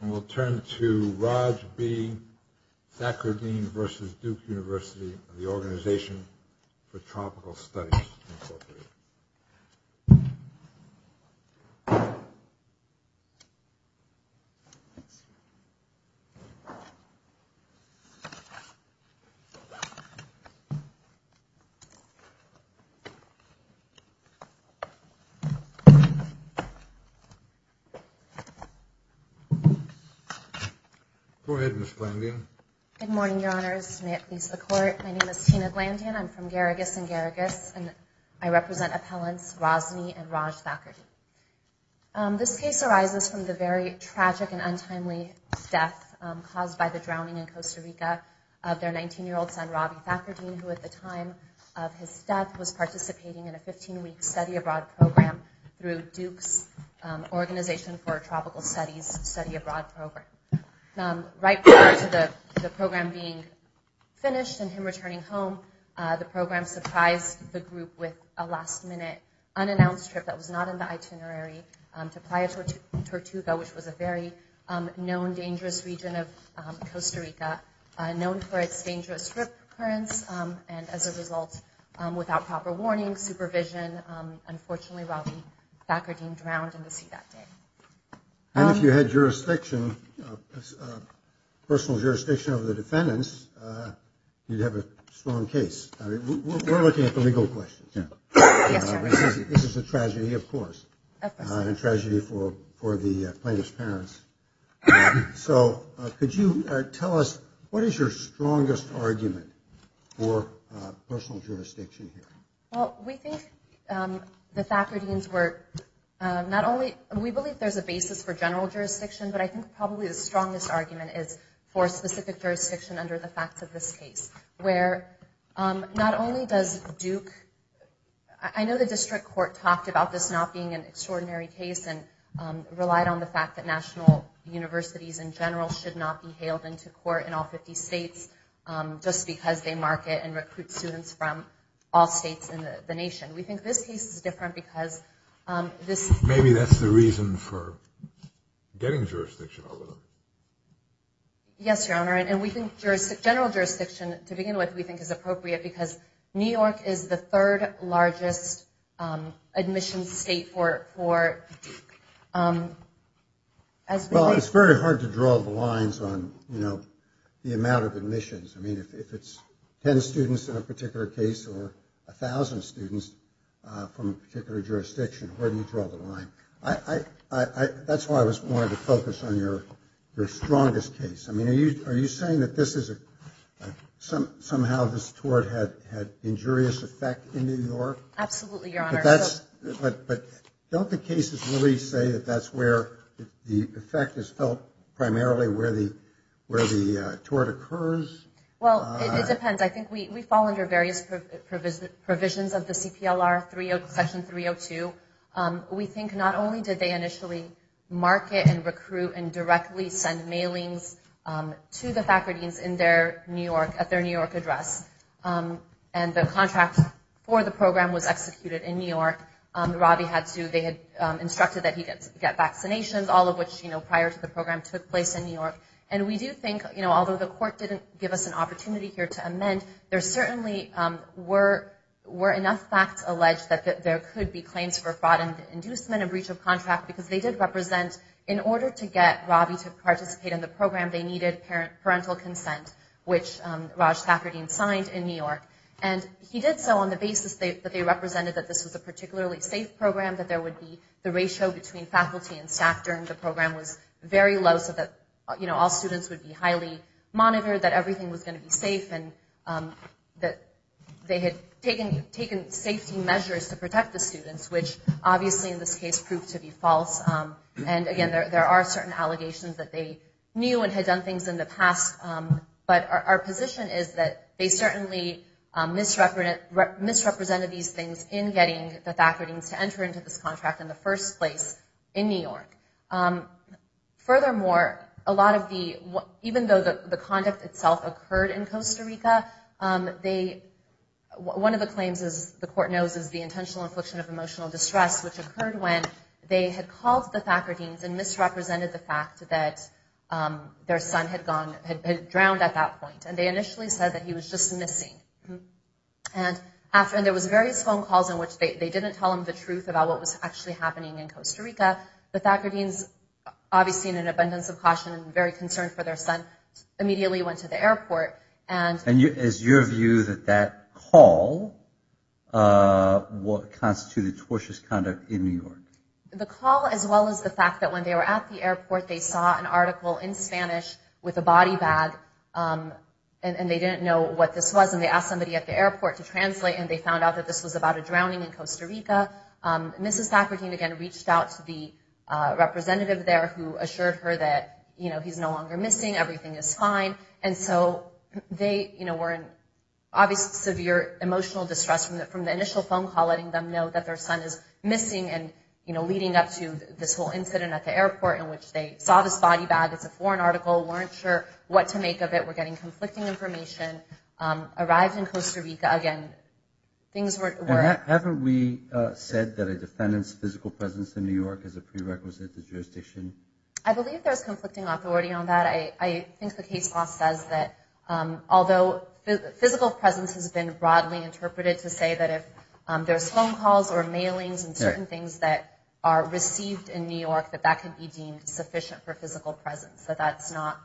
and we'll turn to Raj B. Thackurdeen v. Duke University, the Organization for Tropical Studies. Go ahead, Ms. Glandian. Good morning, Your Honors. May it please the Court. My name is Tina Glandian. I'm from Garrigus and Garrigus and I represent appellants Rosney and Raj Thackurdeen. This case arises from the very tragic and untimely death caused by the drowning in Costa Rica of their 19-year-old son, Robby Thackurdeen, who at the time of his death was participating in a 15-week study abroad program through Duke's Organization for Tropical Studies study abroad program. Right prior to the program being finished and him returning home, the program surprised the group with a last-minute unannounced trip that was not in the itinerary to Playa Tortuga, which was a very known dangerous region of Costa Rica, known for its dangerous rip currents and as a result, without proper warning, supervision, unfortunately, Robby Thackurdeen drowned in the sea that day. And if you had jurisdiction, personal jurisdiction over the defendants, you'd have a strong case. We're looking at the legal question. Yes, Your Honor. This is a tragedy, of course. Of course. A tragedy for the plaintiff's parents. So, could you tell us, what is your strongest argument for personal jurisdiction here? Well, we think the Thackurdeens were, not only, we believe there's a basis for general jurisdiction, but I think probably the strongest argument is for specific jurisdiction under the facts of this case, where not only does Duke, I know the district court talked about this not being an extraordinary case and relied on the fact that national universities in general should not be hailed into court in all 50 states just because they market and recruit students from all states in the nation. We think this case is different because this... Maybe that's the reason for getting jurisdiction over them. Yes, Your Honor. And we think general jurisdiction, to begin with, we think is appropriate because New York is an admissions state for... Well, it's very hard to draw the lines on the amount of admissions. I mean, if it's 10 students in a particular case or 1,000 students from a particular jurisdiction, where do you draw the line? That's why I wanted to focus on your strongest case. I mean, are you saying that somehow this tort had injurious effect in New York? Absolutely, Your Honor. But don't the cases really say that that's where the effect is felt primarily where the tort occurs? Well, it depends. I think we fall under various provisions of the CPLR section 302. We think not only did they initially market and recruit and directly send mailings to the faculties at their New York address, and the contract for the program was executed in New York. Robbie had to... They had instructed that he get vaccinations, all of which prior to the program took place in New York. And we do think, although the court didn't give us an opportunity here to amend, there certainly were enough facts alleged that there could be claims for fraud and inducement and breach of contract because they did represent... participate in the program. They needed parental consent, which Raj Thackerty signed in New York. And he did so on the basis that they represented that this was a particularly safe program, that there would be the ratio between faculty and staff during the program was very low so that all students would be highly monitored, that everything was going to be safe, and that they had taken safety measures to protect the students, which obviously in this case proved to be false. And again, there are certain allegations that they knew and had done things in the past, but our position is that they certainly misrepresented these things in getting the Thackerty's to enter into this contract in the first place in New York. Furthermore, a lot of the... Even though the conduct itself occurred in Costa Rica, they... One of the claims, as the court knows, is the intentional infliction of emotional distress, which occurred when they had called the Thackerty's and misrepresented the fact that their son had gone... Had drowned at that point. And they initially said that he was just missing. And after... And there was various phone calls in which they didn't tell him the truth about what was actually happening in Costa Rica. The Thackerty's, obviously in an abundance of caution and very concerned for their son, immediately went to the airport and... Is your view that that call constituted tortious conduct in New York? The call, as well as the fact that when they were at the airport, they saw an article in Spanish with a body bag, and they didn't know what this was. And they asked somebody at the airport to translate, and they found out that this was about a drowning in Costa Rica. Mrs. Thackerty, again, reached out to the representative there who assured her that he's no longer missing, everything is fine. And so they were in obvious severe emotional distress from the initial phone call letting them know that their son is missing and leading up to this whole incident at the airport in which they saw this body bag, it's a foreign article, weren't sure what to make of it, were getting conflicting information. Arrived in Costa Rica, again, things were... Haven't we said that a defendant's physical presence in New York is a prerequisite to jurisdiction? I believe there's conflicting authority on that. I think the case law says that although physical presence has been broadly interpreted to say that if there's phone calls or mailings and certain things that are received in New York, that that can be deemed sufficient for physical presence, that that's not...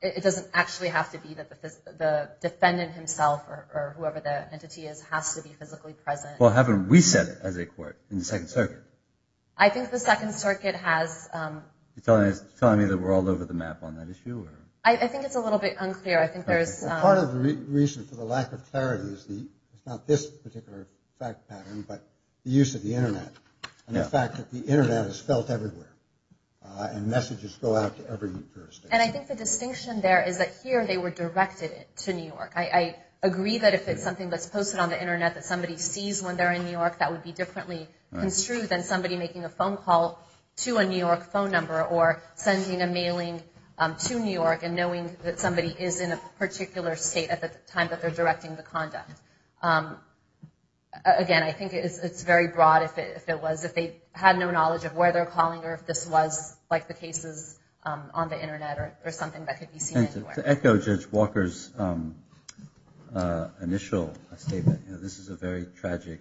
It doesn't actually have to be that the defendant himself or whoever the entity is has to be physically present. Well, haven't we said it as a court in the Second Circuit? I think the Second Circuit has... Are you telling me that we're all over the map on that issue? I think it's a little bit unclear. I think there's... Part of the reason for the lack of clarity is not this particular fact pattern but the use of the Internet and the fact that the Internet is felt everywhere and messages go out to every jurisdiction. And I think the distinction there is that here they were directed to New York. I agree that if it's something that's posted on the Internet that somebody sees when they're in New York phone number or sending a mailing to New York and knowing that somebody is in a particular state at the time that they're directing the conduct. Again, I think it's very broad if it was, if they had no knowledge of where they're calling or if this was like the cases on the Internet or something that could be seen anywhere. And to echo Judge Walker's initial statement, this is a very tragic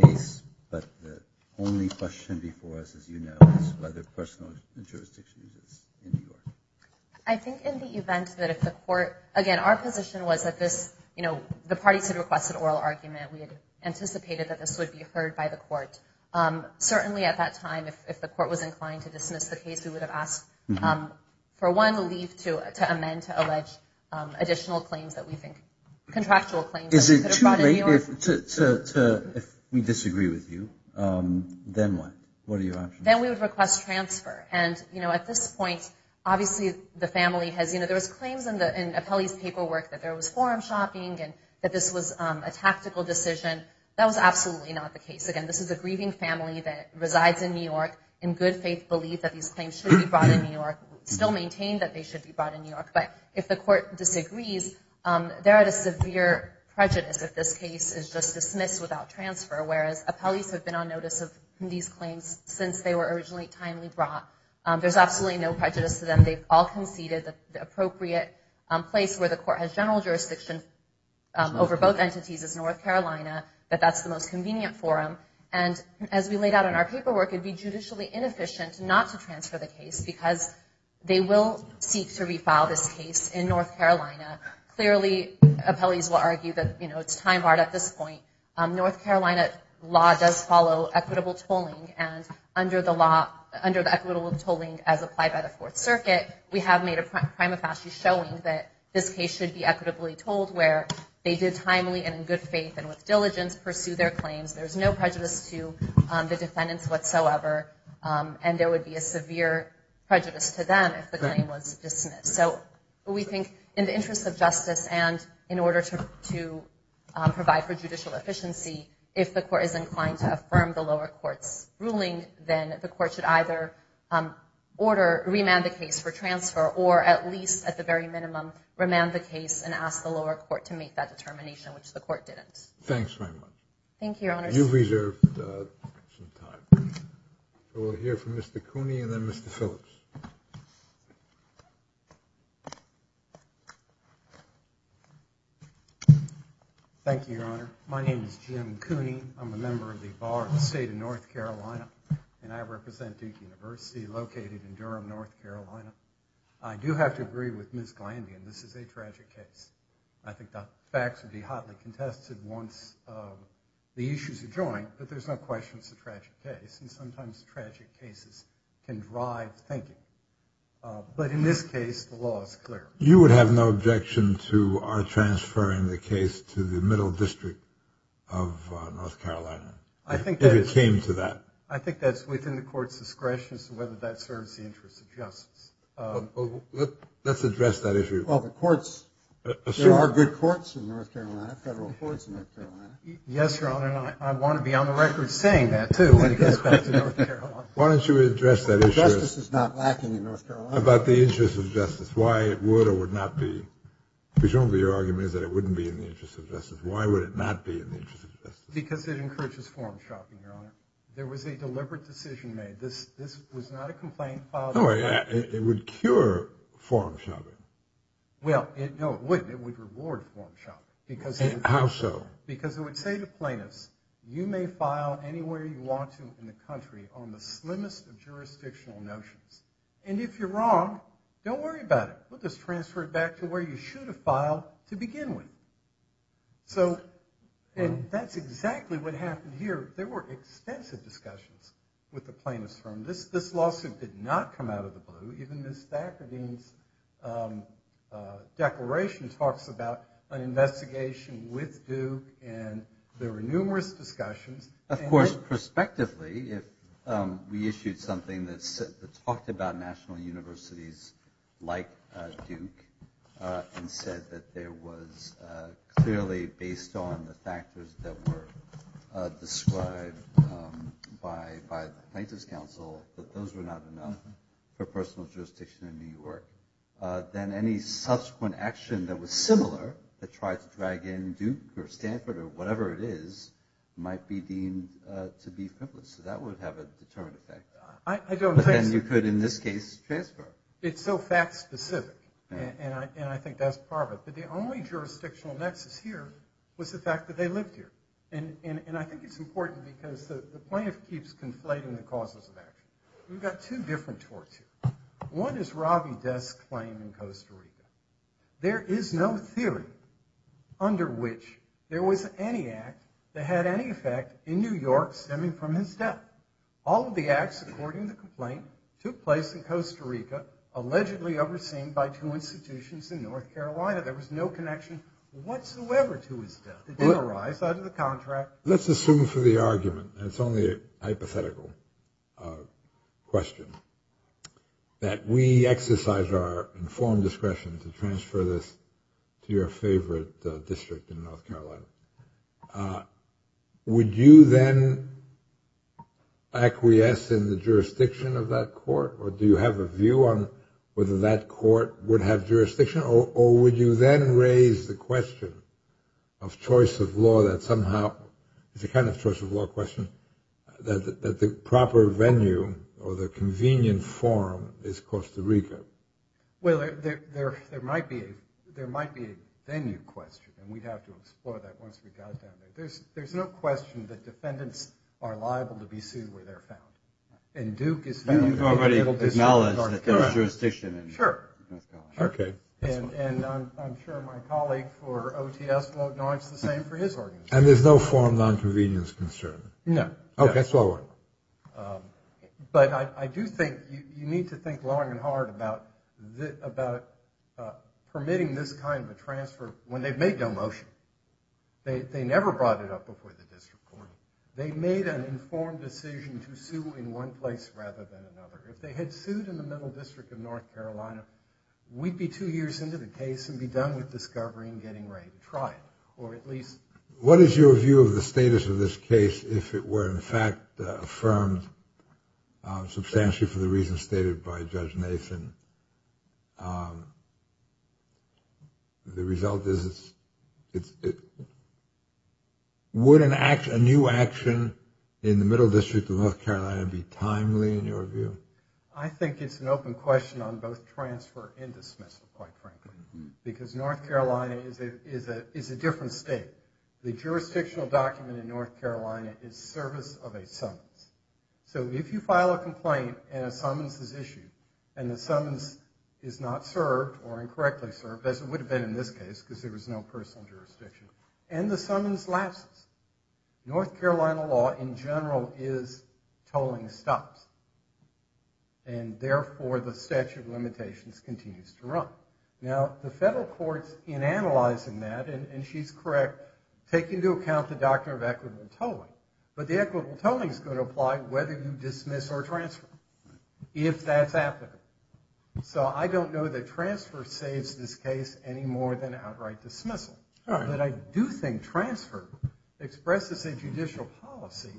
case, but the only question before us, as you know, is whether personal jurisdiction exists in New York. I think in the event that if the court... Again, our position was that this, you know, the parties had requested oral argument. We had anticipated that this would be heard by the court. Certainly at that time, if the court was inclined to dismiss the case, we would have asked for one, leave to amend to allege additional claims that we think, contractual claims that we could have brought in New York. If we disagree with you, then what? What are your options? Then we would request transfer. And, you know, at this point, obviously the family has, you know, there was claims in Apelli's paperwork that there was forum shopping and that this was a tactical decision. That was absolutely not the case. Again, this is a grieving family that resides in New York, in good faith belief that these claims should be But if the court disagrees, they're at a severe prejudice if this case is just dismissed without transfer, whereas Apelli's have been on notice of these claims since they were originally timely brought. There's absolutely no prejudice to them. They've all conceded that the appropriate place where the court has general jurisdiction over both entities is North Carolina, that that's the most convenient for them. And as we laid out in our paperwork, it would be judicially inefficient not to transfer the case because they will seek to refile this case in North Carolina. Clearly, Apelli's will argue that, you know, it's time barred at this point. North Carolina law does follow equitable tolling. And under the law, under the equitable tolling as applied by the Fourth Circuit, we have made a prima facie showing that this case should be equitably told where they did timely and in good faith and with diligence pursue their claims. There's no prejudice to the defendants whatsoever. And there would be a severe prejudice to them if the claim was dismissed. So we think in the interest of justice and in order to provide for judicial efficiency, if the court is inclined to affirm the lower court's ruling, then the court should either order, remand the case for transfer or at least at the very minimum, remand the case and ask the lower court to make that determination, which the court didn't. Thanks very much. Thank you, Your Honor. You've reserved some time. We'll hear from Mr. Cooney and then Mr. Phillips. Thank you, Your Honor. My name is Jim Cooney. I'm a member of the Bar of the State of North Carolina, and I represent Duke University located in Durham, North Carolina. I do have to agree with Ms. Glandy, and this is a tragic case. I think the facts would be hotly contested once the issues are joined, but there's no question it's a tragic case, and sometimes tragic cases can drive thinking. But in this case, the law is clear. You would have no objection to our transferring the case to the middle district of North Carolina? I think that's within the court's discretion as to whether that serves the interest of justice. Let's address that issue. Well, the courts, there are good courts in North Carolina, federal courts in North Carolina. Yes, Your Honor, and I want to be on the record saying that, too, when it gets back to North Carolina. Why don't you address that issue? Justice is not lacking in North Carolina. About the interest of justice, why it would or would not be. Presumably your argument is that it wouldn't be in the interest of justice. Why would it not be in the interest of justice? Because it encourages form shopping, Your Honor. There was a deliberate decision made. This was not a complaint filed in court. It would cure form shopping. Well, no, it wouldn't. It would reward form shopping. How so? Because it would say to plaintiffs, you may file anywhere you want to in the country on the slimmest of jurisdictional notions. And if you're wrong, don't worry about it. We'll just transfer it back to where you should have filed to begin with. So that's exactly what happened here. There were extensive discussions with the plaintiffs. This lawsuit did not come out of the blue. Even Ms. Thacker Dean's declaration talks about an investigation with Duke, and there were numerous discussions. Of course, prospectively, we issued something that talked about national universities like Duke and said that there was clearly, based on the factors that were described by the Plaintiffs' Council, that those were not enough for personal jurisdiction in New York. Then any subsequent action that was similar to try to drag in Duke or Stanford or whatever it is might be deemed to be frivolous. So that would have a determined effect. I don't think so. But then you could, in this case, transfer it. It's so fact-specific, and I think that's part of it. But the only jurisdictional nexus here was the fact that they lived here. And I think it's important because the plaintiff keeps conflating the causes of action. We've got two different torts here. One is Robbie Death's claim in Costa Rica. There is no theory under which there was any act that had any effect in New York stemming from his death. All of the acts, according to the complaint, took place in Costa Rica, allegedly overseen by two institutions in North Carolina. There was no connection whatsoever to his death. It didn't arise out of the contract. Let's assume for the argument, and it's only a hypothetical question, that we exercise our informed discretion to transfer this to your favorite district in North Carolina. Would you then acquiesce in the jurisdiction of that court? Or do you have a view on whether that court would have jurisdiction? Or would you then raise the question of choice of law that somehow, it's a kind of choice of law question, that the proper venue or the convenient forum is Costa Rica? Well, there might be a venue question, and we'd have to explore that once we got down there. There's no question that defendants are liable to be sued where they're found. And Duke is found liable to be sued in North Carolina. You've already acknowledged that there's jurisdiction in North Carolina? Sure. Okay. And I'm sure my colleague for OTS will acknowledge the same for his organization. And there's no forum nonconvenience concern? No. Okay, so all right. But I do think you need to think long and hard about permitting this kind of a transfer when they've made no motion. They never brought it up before the district court. They made an informed decision to sue in one place rather than another. If they had sued in the middle district of North Carolina, we'd be two years into the case and be done with discovery and getting ready to trial, or at least. What is your view of the status of this case if it were, in fact, affirmed substantially for the reasons stated by Judge Nathan? The result is it's. Would a new action in the middle district of North Carolina be timely in your view? I think it's an open question on both transfer and dismissal, quite frankly, because North Carolina is a different state. The jurisdictional document in North Carolina is service of a summons. So if you file a complaint and a summons is issued and the summons is not served or incorrectly served, as it would have been in this case because there was no personal jurisdiction, and the summons lapses, North Carolina law in general is tolling stops. And therefore, the statute of limitations continues to run. Now, the federal courts, in analyzing that, and she's correct, take into account the doctrine of equitable tolling. But the equitable tolling is going to apply whether you dismiss or transfer, if that's applicable. So I don't know that transfer saves this case any more than outright dismissal. But I do think transfer expresses a judicial policy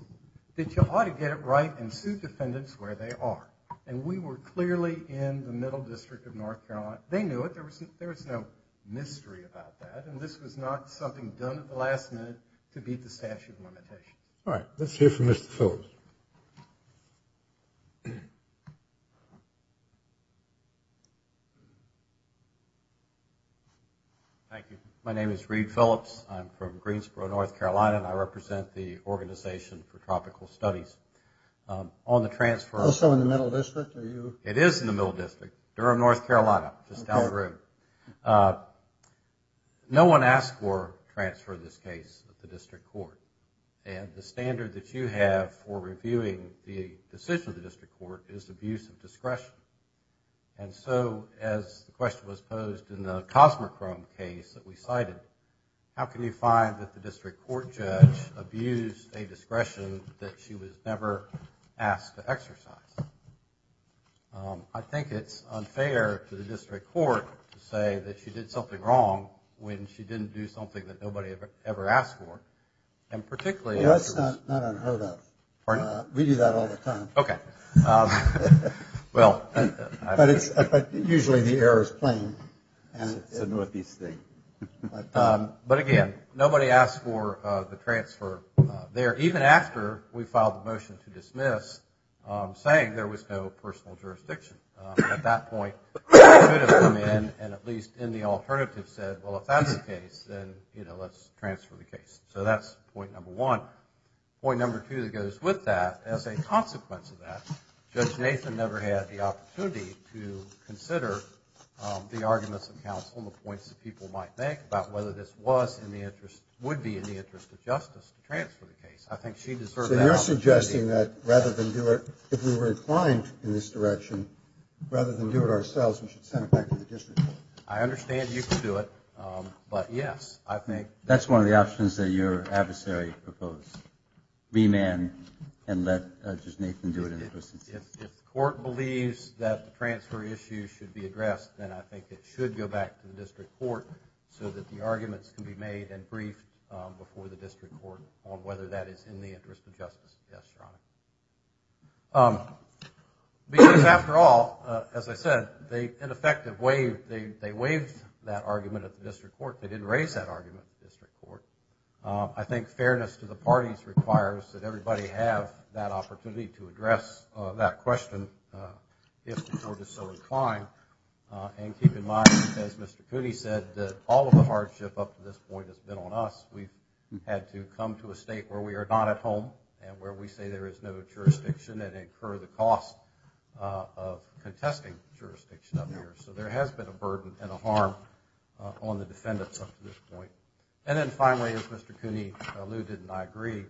that you ought to get it right and sue defendants where they are. And we were clearly in the middle district of North Carolina. They knew it. There was no mystery about that. And this was not something done at the last minute to beat the statute of limitations. All right. Let's hear from Mr. Phillips. Thank you. My name is Reed Phillips. I'm from Greensboro, North Carolina, and I represent the Organization for Tropical Studies. Also in the middle district, are you? It is in the middle district. Durham, North Carolina. Just down the road. No one asked for a transfer of this case to the district court. And the standard that you have for reviewing the decision of the district court is abuse of discretion. And so, as the question was posed in the Cosmochrome case that we cited, how can you find that the district court judge abused a discretion that she was never asked to exercise? I think it's unfair to the district court to say that she did something wrong when she didn't do something that nobody ever asked for. Well, that's not unheard of. We do that all the time. Okay. But usually the error is plain. It's a Northeast thing. But, again, nobody asked for the transfer there, even after we filed the motion to dismiss, saying there was no personal jurisdiction. At that point, we should have come in and at least in the alternative said, well, if that's the case, then, you know, let's transfer the case. So that's point number one. Point number two that goes with that, as a consequence of that, Judge Nathan never had the opportunity to consider the arguments of counsel and the points that people might make about whether this was in the interest, would be in the interest of justice to transfer the case. I think she deserved that opportunity. So you're suggesting that rather than do it, if we were inclined in this direction, rather than do it ourselves, we should send it back to the district court. I understand you can do it. But, yes, I think that's one of the options that your adversary proposed, remand and let Judge Nathan do it. If the court believes that the transfer issue should be addressed, then I think it should go back to the district court so that the arguments can be made and briefed before the district court on whether that is in the interest of justice. Yes, Your Honor. Because, after all, as I said, they, in effect, they waived that argument at the district court. They didn't raise that argument at the district court. I think fairness to the parties requires that everybody have that opportunity to address that question if the court is so inclined. And keep in mind, as Mr. Cooney said, that all of the hardship up to this point has been on us. We've had to come to a state where we are not at home and where we say there is no jurisdiction and incur the cost of contesting jurisdiction up here. So there has been a burden and a harm on the defendants up to this point. And then, finally, as Mr. Cooney alluded and I agree,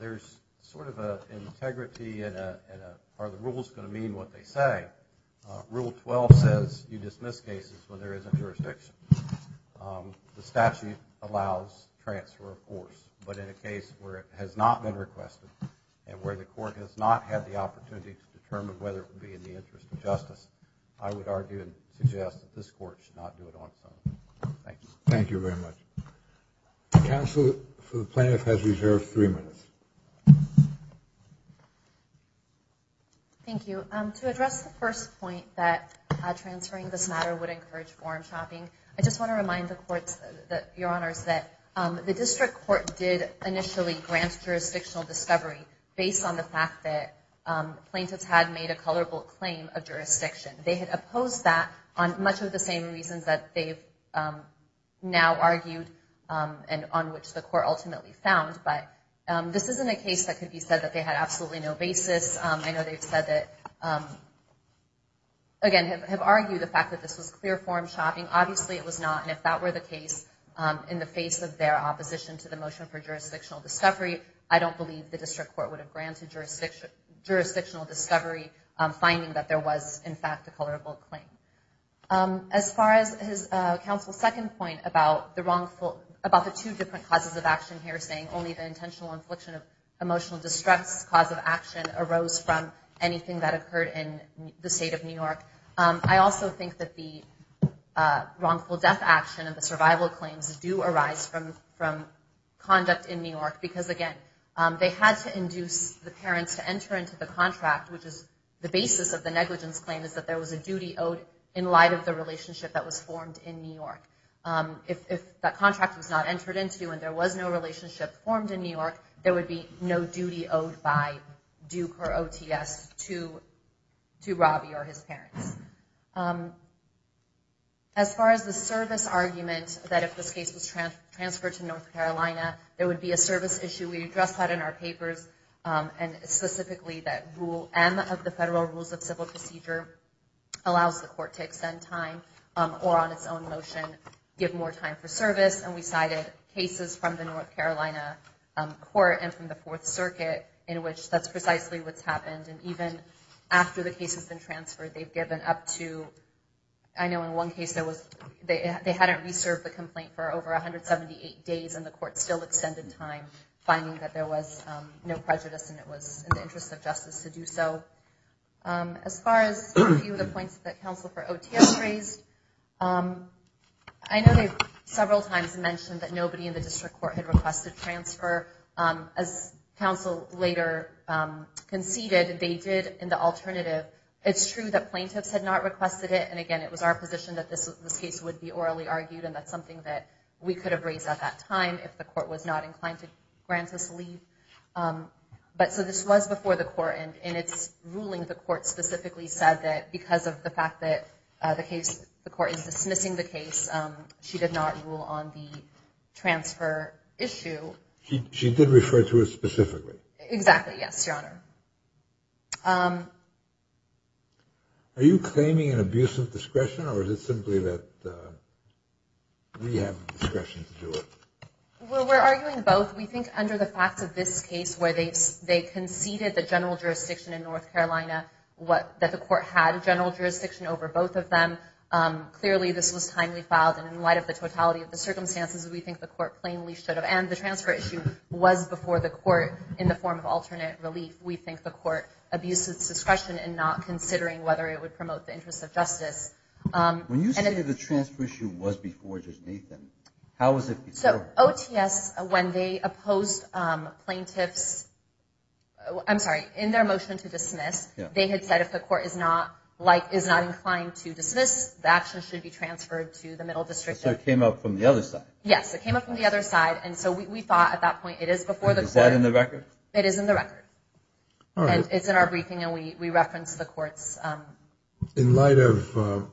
there is sort of an integrity and are the rules going to mean what they say? Rule 12 says you dismiss cases when there isn't jurisdiction. The statute allows transfer, of course, but in a case where it has not been requested and where the court has not had the opportunity to determine whether it would be in the interest of justice, I would argue and suggest that this court should not do it on its own. Thank you very much. Counsel for the plaintiff has reserved three minutes. Thank you. To address the first point that transferring this matter would encourage form shopping, I just want to remind the courts, Your Honors, that the district court did initially grant jurisdictional discovery based on the fact that plaintiffs had made a colorable claim of jurisdiction. They had opposed that on much of the same reasons that they've now argued and on which the court ultimately found. But this isn't a case that could be said that they had absolutely no basis. I know they've said that, again, have argued the fact that this was clear form shopping. Obviously, it was not. And if that were the case in the face of their opposition to the motion for jurisdictional discovery, I don't believe the district court would have granted jurisdictional discovery, finding that there was, in fact, a colorable claim. As far as Counsel's second point about the two different causes of action here, saying only the intentional infliction of emotional distress cause of action arose from anything that occurred in the state of New York, I also think that the wrongful death action and the survival claims do arise from conduct in New York. Because, again, they had to induce the parents to enter into the contract, which is the basis of the negligence claim, is that there was a duty owed in light of the relationship that was formed in New York. If that contract was not entered into and there was no relationship formed in New York, there would be no duty owed by Duke or OTS to Robbie or his parents. As far as the service argument that if this case was transferred to North Carolina, there would be a service issue, we addressed that in our papers, and specifically that Rule M of the Federal Rules of Civil Procedure allows the court to extend time or, on its own motion, give more time for service. And we cited cases from the North Carolina court and from the Fourth Circuit in which that's precisely what's happened. And even after the case has been transferred, they've given up to— I know in one case they hadn't reserved the complaint for over 178 days and the court still extended time, finding that there was no prejudice and it was in the interest of justice to do so. As far as a few of the points that counsel for OTS raised, I know they've several times mentioned that nobody in the district court had requested transfer. As counsel later conceded, they did in the alternative. It's true that plaintiffs had not requested it, and again, it was our position that this case would be orally argued, and that's something that we could have raised at that time if the court was not inclined to grant us leave. But so this was before the court, and in its ruling, the court specifically said that because of the fact that the court is dismissing the case, she did not rule on the transfer issue. She did refer to it specifically? Exactly, yes, Your Honor. Are you claiming an abuse of discretion, or is it simply that we have discretion to do it? Well, we're arguing both. We think under the facts of this case where they conceded the general jurisdiction in North Carolina, that the court had general jurisdiction over both of them, clearly this was timely filed, and in light of the totality of the circumstances, we think the court plainly should have, and the transfer issue was before the court in the form of alternate relief. We think the court abused its discretion in not considering whether it would promote the interests of justice. When you say the transfer issue was before Judge Nathan, how was it before? So OTS, when they opposed plaintiffs, I'm sorry, in their motion to dismiss, they had said if the court is not inclined to dismiss, the action should be transferred to the middle district. So it came up from the other side? Yes, it came up from the other side, and so we thought at that point it is before the court. It is in the record? It is in the record, and it's in our briefing, and we reference the courts. In light of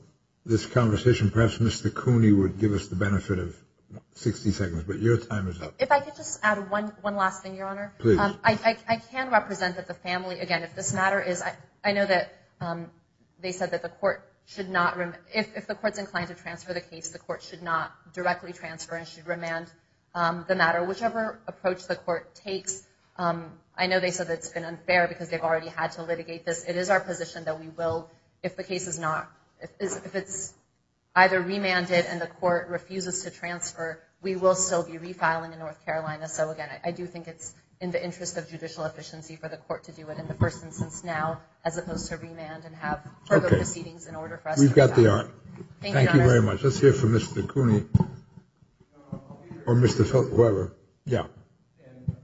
this conversation, perhaps Mr. Cooney would give us the benefit of 60 seconds, but your time is up. If I could just add one last thing, Your Honor. Please. I can represent the family. Again, if this matter is, I know that they said that the court should not, if the court is inclined to transfer the case, the court should not directly transfer and should remand the matter. Whichever approach the court takes, I know they said it's been unfair because they've already had to litigate this. It is our position that we will, if the case is not, if it's either remanded and the court refuses to transfer, we will still be refiling in North Carolina. So, again, I do think it's in the interest of judicial efficiency for the court to do it in the first instance now as opposed to remand and have further proceedings in order for us to do that. Okay. We've got the art. Thank you, Your Honor. Or Mr. Fletcher, whoever. Yeah.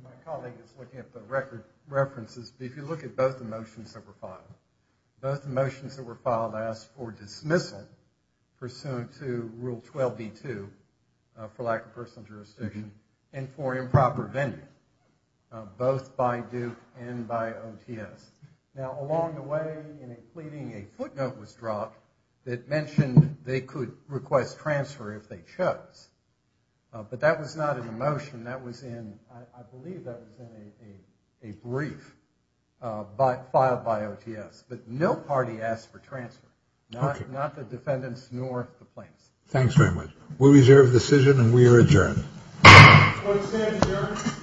My colleague is looking at the record references. If you look at both the motions that were filed, both the motions that were filed asked for dismissal pursuant to Rule 12b-2 for lack of personal jurisdiction and for improper vending, both by Duke and by OTS. Now, along the way in a pleading, a footnote was dropped that mentioned they could request transfer if they chose. But that was not in the motion. That was in, I believe that was in a brief filed by OTS. But no party asked for transfer, not the defendants nor the plaintiffs. Thanks very much. We reserve the decision and we are adjourned. Court is adjourned.